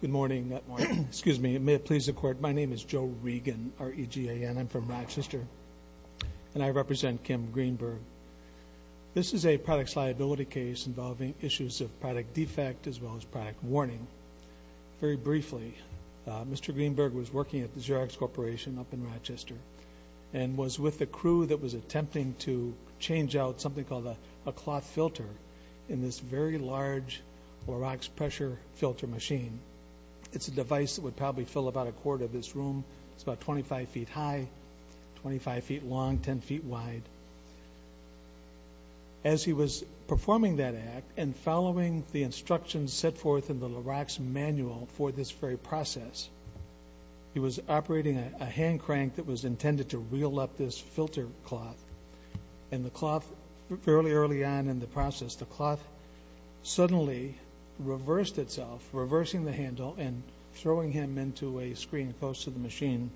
Good morning, excuse me. May it please the court, my name is Joe Regan, R-E-G-A-N. I'm from Rochester and I represent Kim Greenberg. This is a products liability case involving issues of product defect as well as product warning. Very briefly, Mr. Greenberg was working at the Xerox Corporation up in Rochester and was with the crew that was attempting to change out something called a cloth filter in this very large Larox pressure filter machine. It's a device that would probably fill about a quarter of this room. It's about 25 feet high, 25 feet long, 10 feet wide. As he was performing that act and following the instructions set forth in the Larox manual for this very process, he was operating a hand crank that was intended to reel up this filter cloth. And the cloth, fairly early on in the process, the cloth suddenly reversed itself, reversing the handle and throwing him into a screen close to the machine,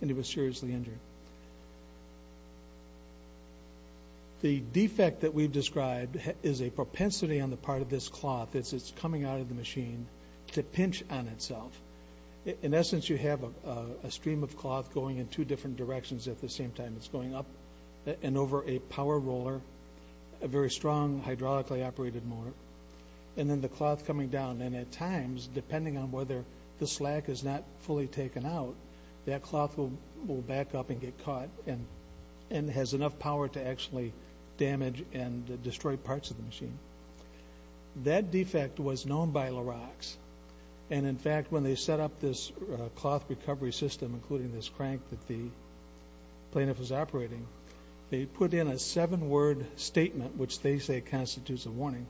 and he was seriously injured. The defect that we've described is a propensity on the part of this cloth that's coming out of the machine to pinch on itself. In essence, you have a stream of cloth going in two different directions at the same time. It's going up and over a power roller, a very strong hydraulically operated motor, and then the cloth coming down. And at times, depending on whether the slack is not fully taken out, that cloth will back up and get caught and has enough power to actually damage and destroy parts of the machine. That defect was known by Larox. And, in fact, when they set up this cloth recovery system, including this crank that the plaintiff was operating, they put in a seven-word statement which they say constitutes a warning.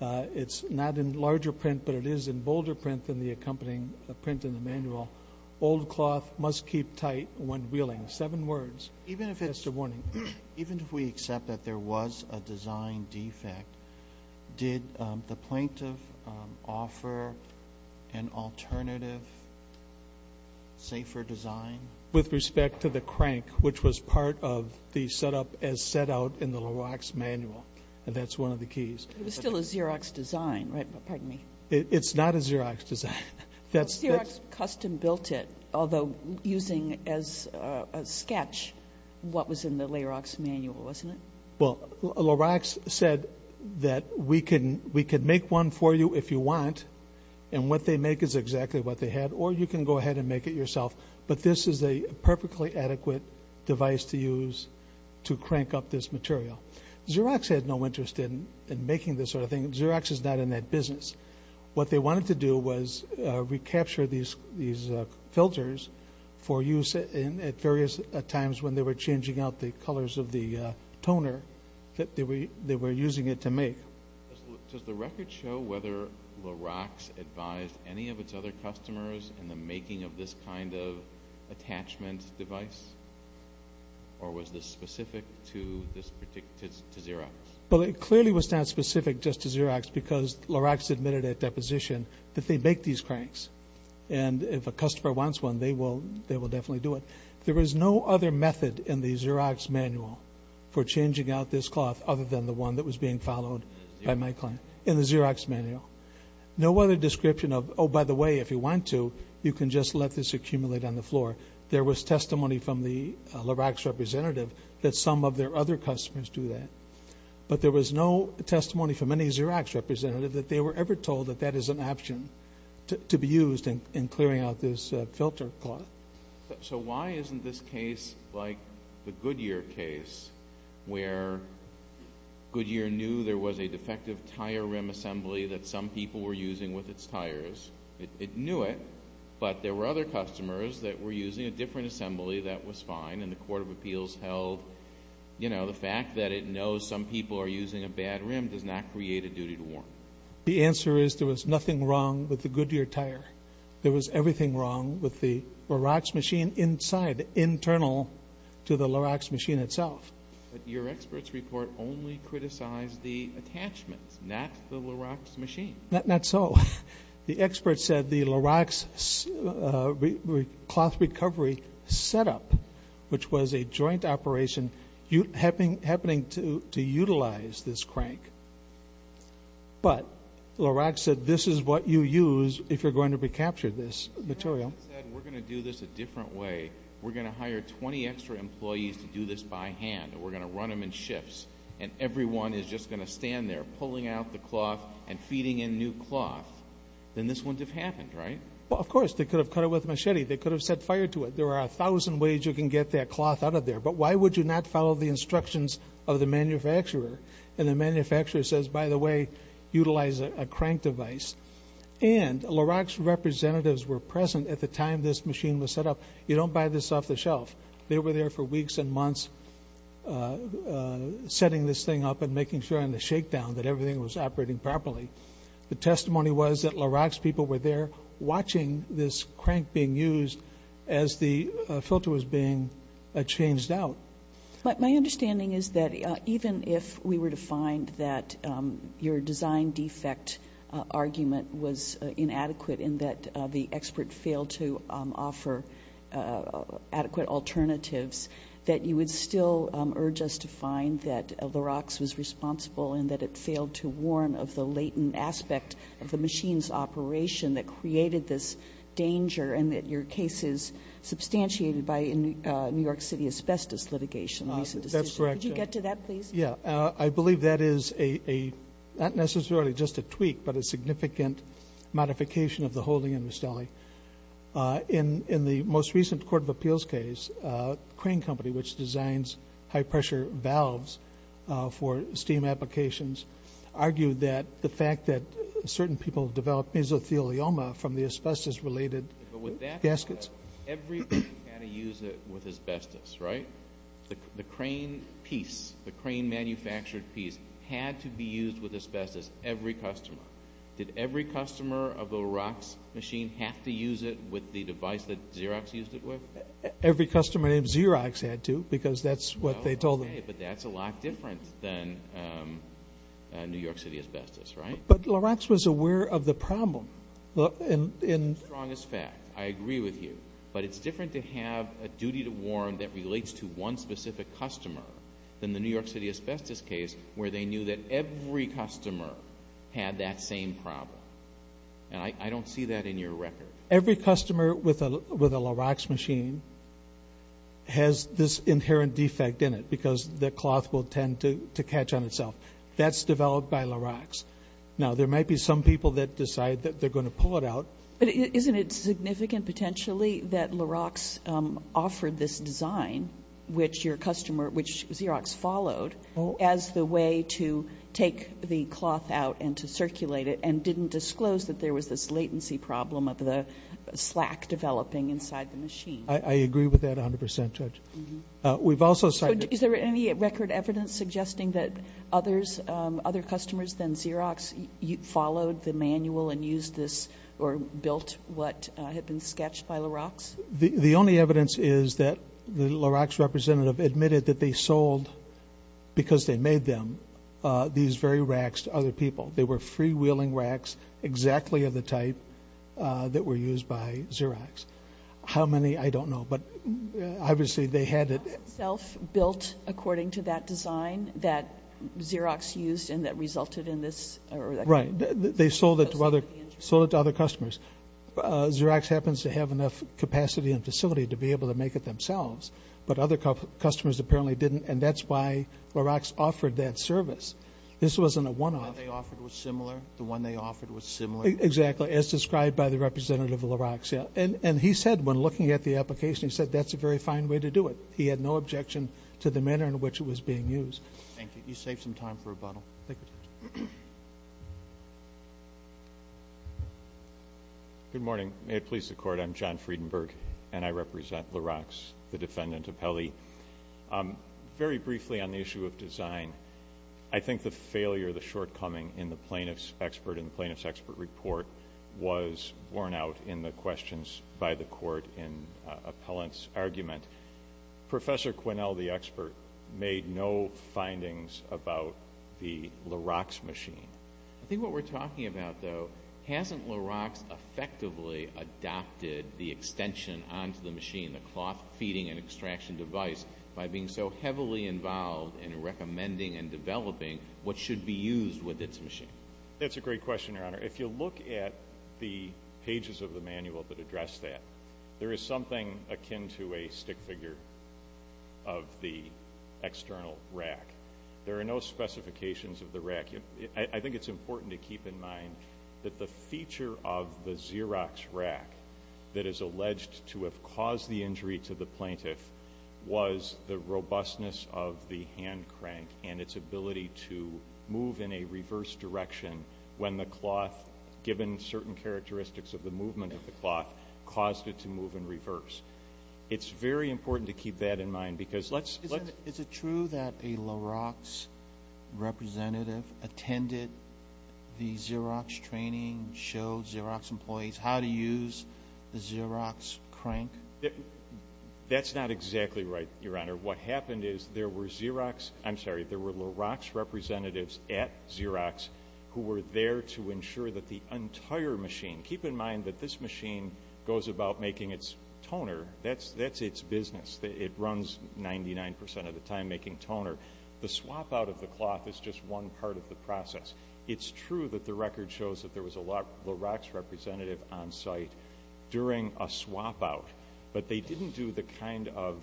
It's not in larger print, but it is in bolder print than the accompanying print in the manual. Old cloth must keep tight when reeling. Seven words. That's the warning. Even if we accept that there was a design defect, did the plaintiff offer an alternative, safer design? With respect to the crank, which was part of the setup as set out in the Larox manual, that's one of the keys. It was still a Xerox design, right? Pardon me. It's not a Xerox design. Xerox custom built it, although using as a sketch what was in the Larox manual, wasn't it? Well, Larox said that we can make one for you if you want, and what they make is exactly what they had, or you can go ahead and make it yourself. But this is a perfectly adequate device to use to crank up this material. Xerox had no interest in making this sort of thing. Xerox is not in that business. What they wanted to do was recapture these filters for use at various times when they were changing out the colors of the toner that they were using it to make. Does the record show whether Larox advised any of its other customers in the making of this kind of attachment device, or was this specific to Xerox? Well, it clearly was not specific just to Xerox because Larox admitted at deposition that they make these cranks, and if a customer wants one, they will definitely do it. There was no other method in the Xerox manual for changing out this cloth other than the one that was being followed by my client in the Xerox manual. No other description of, oh, by the way, if you want to, you can just let this accumulate on the floor. There was testimony from the Larox representative that some of their other customers do that, but there was no testimony from any Xerox representative that they were ever told that that is an option to be used in clearing out this filter cloth. So why isn't this case like the Goodyear case, where Goodyear knew there was a defective tire rim assembly that some people were using with its tires? It knew it, but there were other customers that were using a different assembly that was fine, and the court of appeals held, you know, the fact that it knows some people are using a bad rim does not create a duty to warn. The answer is there was nothing wrong with the Goodyear tire. There was everything wrong with the Larox machine inside, internal to the Larox machine itself. But your experts report only criticized the attachments, not the Larox machine. Not so. The experts said the Larox cloth recovery setup, which was a joint operation, happening to utilize this crank, but Larox said this is what you use if you're going to recapture this material. We're going to do this a different way. We're going to hire 20 extra employees to do this by hand, and we're going to run them in shifts, and everyone is just going to stand there pulling out the cloth and feeding in new cloth. Then this wouldn't have happened, right? Well, of course. They could have cut it with a machete. They could have set fire to it. There are a thousand ways you can get that cloth out of there, but why would you not follow the instructions of the manufacturer? And the manufacturer says, by the way, utilize a crank device. And Larox representatives were present at the time this machine was set up. You don't buy this off the shelf. They were there for weeks and months setting this thing up and making sure on the shakedown that everything was operating properly. The testimony was that Larox people were there watching this crank being used as the filter was being changed out. But my understanding is that even if we were to find that your design defect argument was inadequate in that the expert failed to offer adequate alternatives, that you would still urge us to find that Larox was responsible in that it failed to warn of the latent aspect of the machine's operation that created this danger and that your case is substantiated by New York City asbestos litigation. That's correct. Could you get to that, please? Yeah. I believe that is not necessarily just a tweak, but a significant modification of the holding in Mustelli. In the most recent Court of Appeals case, a crane company which designs high-pressure valves for steam applications argued that the fact that certain people developed mesothelioma from the asbestos-related gaskets. But with that said, everybody had to use it with asbestos, right? The crane piece, the crane-manufactured piece, had to be used with asbestos, every customer. Did every customer of the Larox machine have to use it with the device that Xerox used it with? Every customer named Xerox had to because that's what they told them. Okay, but that's a lot different than New York City asbestos, right? But Larox was aware of the problem. Strongest fact. I agree with you. But it's different to have a duty to warn that relates to one specific customer than the New York City asbestos case where they knew that every customer had that same problem. And I don't see that in your record. Every customer with a Larox machine has this inherent defect in it because the cloth will tend to catch on itself. That's developed by Larox. Now, there might be some people that decide that they're going to pull it out. But isn't it significant potentially that Larox offered this design, which Xerox followed, as the way to take the cloth out and to circulate it and didn't disclose that there was this latency problem of the slack developing inside the machine? I agree with that 100%, Judge. Is there any record evidence suggesting that other customers than Xerox followed the manual and used this or built what had been sketched by Larox? The only evidence is that the Larox representative admitted that they sold, because they made them, these very racks to other people. They were freewheeling racks exactly of the type that were used by Xerox. How many, I don't know. But obviously they had it. Built according to that design that Xerox used and that resulted in this? Right. They sold it to other customers. Xerox happens to have enough capacity and facility to be able to make it themselves, but other customers apparently didn't, and that's why Larox offered that service. This wasn't a one-off. The one they offered was similar? The one they offered was similar? Exactly, as described by the representative of Larox. And he said when looking at the application, he said that's a very fine way to do it. He had no objection to the manner in which it was being used. Thank you. You saved some time for rebuttal. Thank you, Judge. Good morning. May it please the Court. I'm John Friedenberg, and I represent Larox, the defendant appellee. Very briefly on the issue of design, I think the failure, the shortcoming in the plaintiff's expert report was borne out in the questions by the Court in Appellant's argument. Professor Quinnell, the expert, made no findings about the Larox machine. I think what we're talking about, though, hasn't Larox effectively adopted the extension onto the machine, the cloth feeding and extraction device, by being so heavily involved in recommending and developing what should be used with its machine? That's a great question, Your Honor. If you look at the pages of the manual that address that, there is something akin to a stick figure of the external rack. There are no specifications of the rack. I think it's important to keep in mind that the feature of the Xerox rack that is alleged to have caused the injury to the plaintiff was the robustness of the hand crank and its ability to move in a reverse direction when the cloth, given certain characteristics of the movement of the cloth, caused it to move in reverse. It's very important to keep that in mind because let's... Is it true that a Larox representative attended the Xerox training, showed Xerox employees how to use the Xerox crank? That's not exactly right, Your Honor. What happened is there were Xerox, I'm sorry, there were Larox representatives at Xerox who were there to ensure that the entire machine, keep in mind that this machine goes about making its toner. That's its business. It runs 99% of the time making toner. The swap-out of the cloth is just one part of the process. It's true that the record shows that there was a Larox representative on site during a swap-out, but they didn't do the kind of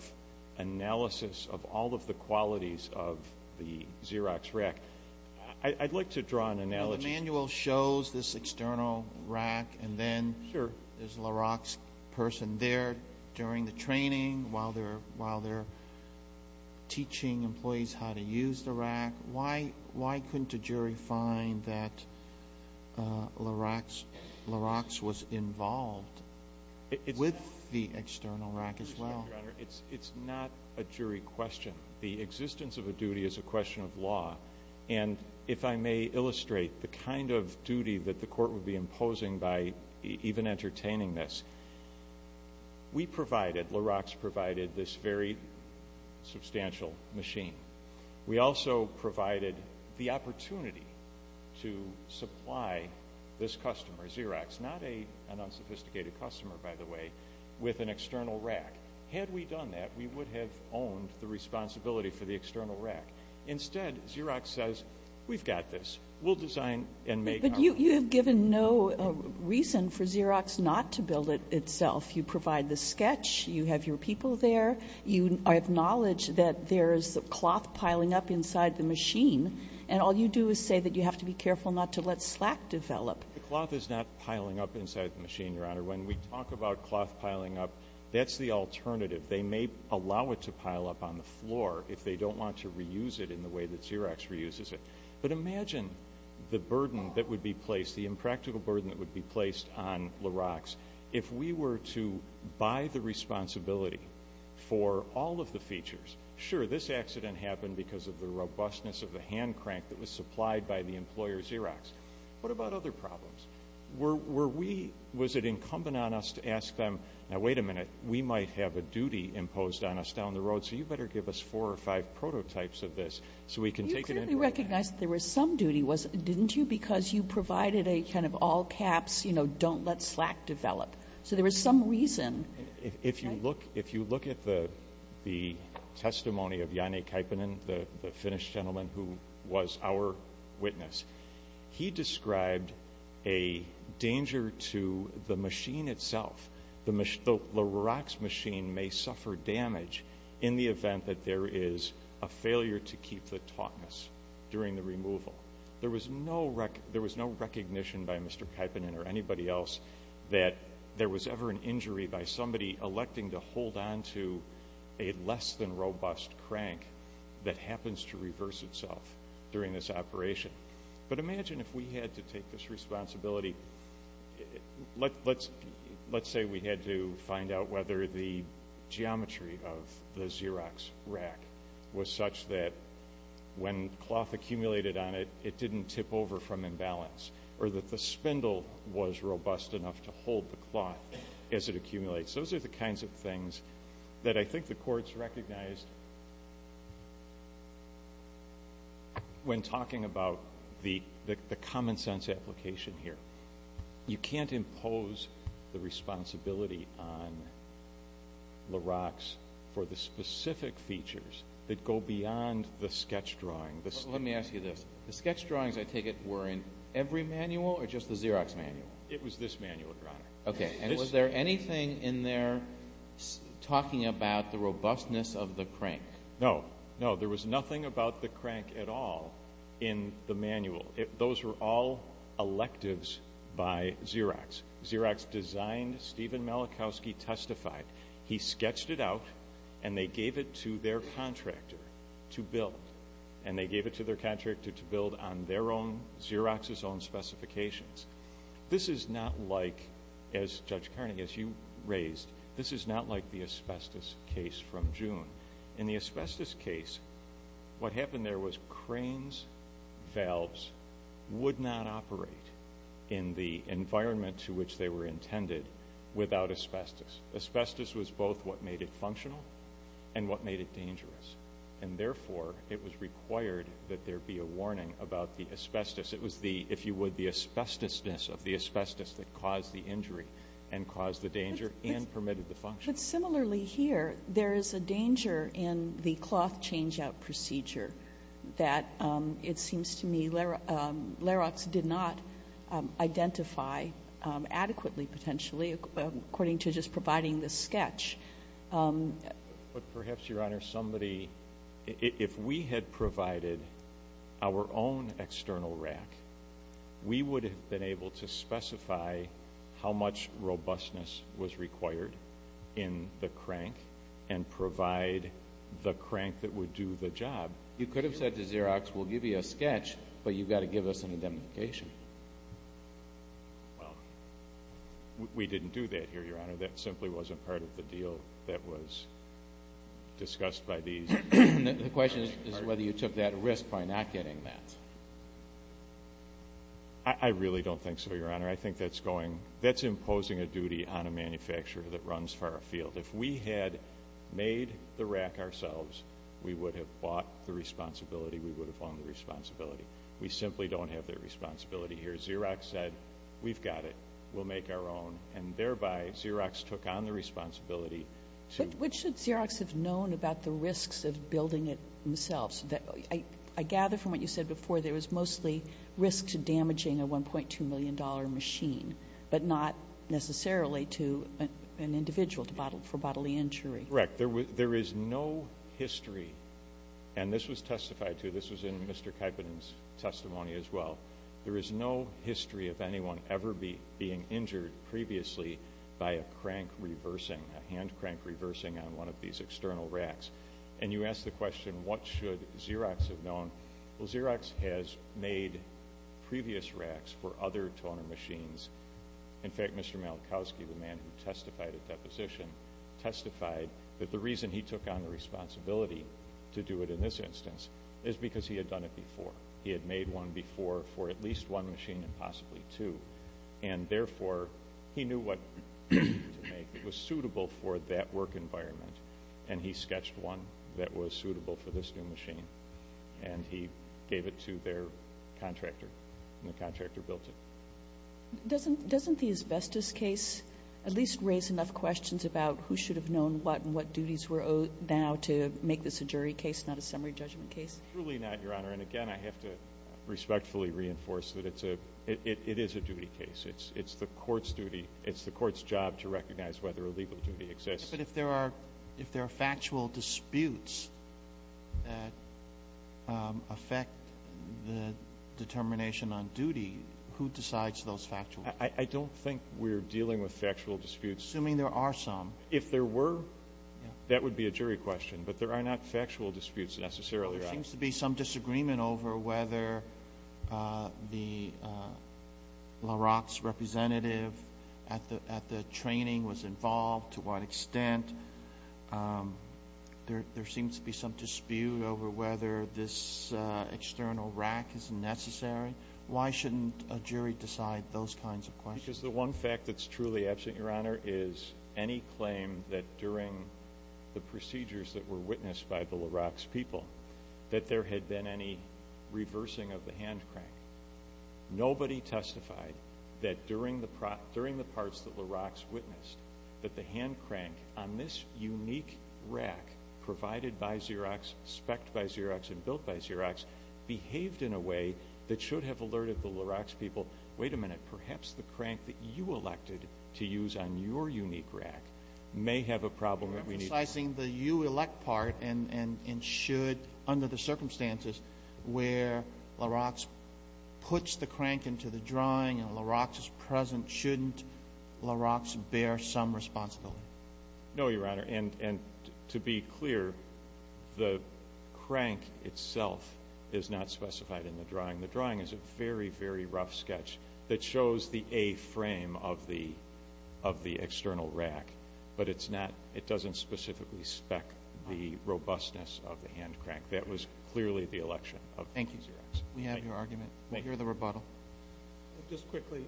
analysis of all of the qualities of the Xerox rack. I'd like to draw an analogy. The manual shows this external rack, and then there's a Larox person there during the training while they're teaching employees how to use the rack. Why couldn't a jury find that Larox was involved with the external rack as well? It's not a jury question. The existence of a duty is a question of law. If I may illustrate the kind of duty that the court would be imposing by even entertaining this, we provided, Larox provided, this very substantial machine. We also provided the opportunity to supply this customer, Xerox, not an unsophisticated customer, by the way, with an external rack. Had we done that, we would have owned the responsibility for the external rack. Instead, Xerox says, We've got this. We'll design and make our own. But you have given no reason for Xerox not to build it itself. You provide the sketch. You have your people there. You acknowledge that there is cloth piling up inside the machine, and all you do is say that you have to be careful not to let slack develop. The cloth is not piling up inside the machine, Your Honor. When we talk about cloth piling up, that's the alternative. They may allow it to pile up on the floor if they don't want to reuse it in the way that Xerox reuses it. But imagine the burden that would be placed, the impractical burden that would be placed on Larox if we were to buy the responsibility for all of the features. Sure, this accident happened because of the robustness of the hand crank that was supplied by the employer, Xerox. What about other problems? Was it incumbent on us to ask them, Now, wait a minute. We might have a duty imposed on us down the road, so you better give us four or five prototypes of this so we can take it. You clearly recognized there was some duty, didn't you, because you provided a kind of all-caps, you know, don't let slack develop. So there was some reason. If you look at the testimony of Janne Kaipanen, the Finnish gentleman who was our witness, he described a danger to the machine itself, the Larox machine may suffer damage in the event that there is a failure to keep the tautness during the removal. There was no recognition by Mr. Kaipanen or anybody else that there was ever an injury by somebody electing to hold on to a less than robust crank that happens to reverse itself during this operation. But imagine if we had to take this responsibility. Let's say we had to find out whether the geometry of the Xerox rack was such that when cloth accumulated on it, it didn't tip over from imbalance, or that the spindle was robust enough to hold the cloth as it accumulates. Those are the kinds of things that I think the courts recognized when talking about the common sense application here. You can't impose the responsibility on Larox for the specific features that go beyond the sketch drawing. Let me ask you this. The sketch drawings, I take it, were in every manual or just the Xerox manual? It was this manual, Your Honor. Okay. And was there anything in there talking about the robustness of the crank? No. No, there was nothing about the crank at all in the manual. Those were all electives by Xerox. Xerox designed, Stephen Malachowski testified. He sketched it out, and they gave it to their contractor to build, and they gave it to their contractor to build on their own, Xerox's own specifications. This is not like, as Judge Kearney, as you raised, this is not like the asbestos case from June. In the asbestos case, what happened there was cranes, valves, would not operate in the environment to which they were intended without asbestos. Asbestos was both what made it functional and what made it dangerous, and therefore it was required that there be a warning about the asbestos. It was the, if you would, the asbestosness of the asbestos that caused the injury and caused the danger and permitted the function. But similarly here, there is a danger in the cloth change-out procedure that, it seems to me, Xerox did not identify adequately, potentially, according to just providing the sketch. But perhaps, Your Honor, somebody, if we had provided our own external rack, we would have been able to specify how much robustness was required in the crank and provide the crank that would do the job. You could have said to Xerox, we'll give you a sketch, but you've got to give us an identification. Well, we didn't do that here, Your Honor. That simply wasn't part of the deal that was discussed by these. The question is whether you took that risk by not getting that. I really don't think so, Your Honor. I think that's imposing a duty on a manufacturer that runs for our field. If we had made the rack ourselves, we would have bought the responsibility, we would have owned the responsibility. We simply don't have that responsibility here. Xerox said, we've got it, we'll make our own, and thereby Xerox took on the responsibility to Which should Xerox have known about the risks of building it themselves? I gather from what you said before, there was mostly risk to damaging a $1.2 million machine, but not necessarily to an individual for bodily injury. Correct. There is no history, and this was testified to, this was in Mr. Kaipanen's testimony as well, there is no history of anyone ever being injured previously by a crank reversing, a hand crank reversing on one of these external racks. And you asked the question, what should Xerox have known? Well, Xerox has made previous racks for other toner machines. In fact, Mr. Malkowski, the man who testified at that position, testified that the reason he took on the responsibility to do it in this instance is because he had done it before. He had made one before for at least one machine and possibly two, and therefore he knew what he needed to make. It was suitable for that work environment, and he sketched one that was suitable for this new machine, and he gave it to their contractor, and the contractor built it. Doesn't the asbestos case at least raise enough questions about who should have known what and what duties were owed now to make this a jury case, not a summary judgment case? Truly not, Your Honor. And, again, I have to respectfully reinforce that it is a duty case. It's the court's duty. It's the court's job to recognize whether a legal duty exists. But if there are factual disputes that affect the determination on duty, who decides those factual disputes? I don't think we're dealing with factual disputes. Assuming there are some. If there were, that would be a jury question, but there are not factual disputes necessarily, Your Honor. There seems to be some disagreement over whether the LaRock's representative at the training was involved, to what extent. There seems to be some dispute over whether this external rack is necessary. Why shouldn't a jury decide those kinds of questions? If there is any claim that during the procedures that were witnessed by the LaRock's people that there had been any reversing of the hand crank, nobody testified that during the parts that LaRock's witnessed, that the hand crank on this unique rack provided by Xerox, specced by Xerox, and built by Xerox, behaved in a way that should have alerted the LaRock's people, wait a minute, perhaps the crank that you elected to use on your unique rack may have a problem. You're emphasizing the you elect part and should, under the circumstances, where LaRock's puts the crank into the drawing and LaRock's is present, shouldn't LaRock's bear some responsibility? No, Your Honor. And to be clear, the crank itself is not specified in the drawing. The drawing is a very, very rough sketch that shows the A frame of the external rack, but it doesn't specifically spec the robustness of the hand crank. That was clearly the election of Xerox. Thank you. We have your argument. We hear the rebuttal. Just quickly,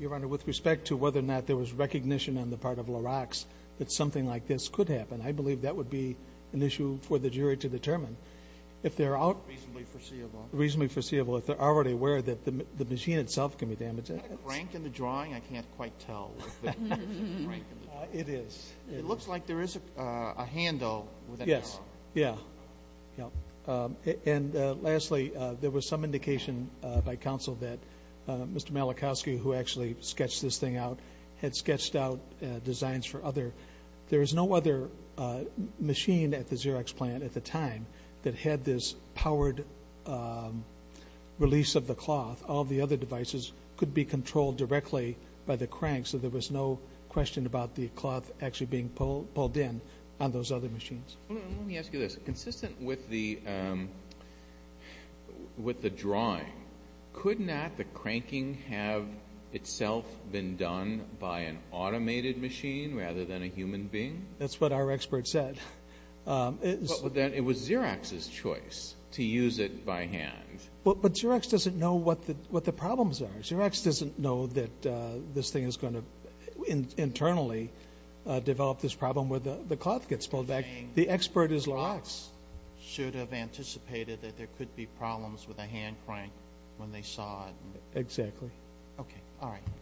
Your Honor, with respect to whether or not there was recognition on the part of LaRock's that something like this could happen, I believe that would be an issue for the jury to determine. Reasonably foreseeable. Reasonably foreseeable if they're already aware that the machine itself can be damaged. Is that a crank in the drawing? I can't quite tell if there is a crank in the drawing. It is. It looks like there is a handle. Yes. Yeah. And lastly, there was some indication by counsel that Mr. Malachowski, who actually sketched this thing out, had sketched out designs for other. There is no other machine at the Xerox plant at the time that had this powered release of the cloth. All of the other devices could be controlled directly by the crank, so there was no question about the cloth actually being pulled in on those other machines. Let me ask you this. Consistent with the drawing, could not the cranking have itself been done by an automated machine rather than a human being? That's what our expert said. It was Xerox's choice to use it by hand. But Xerox doesn't know what the problems are. Xerox doesn't know that this thing is going to internally develop this problem where the cloth gets pulled back. The expert is LaRock's. Xerox should have anticipated that there could be problems with a hand crank when they saw it. Exactly. Okay. All right.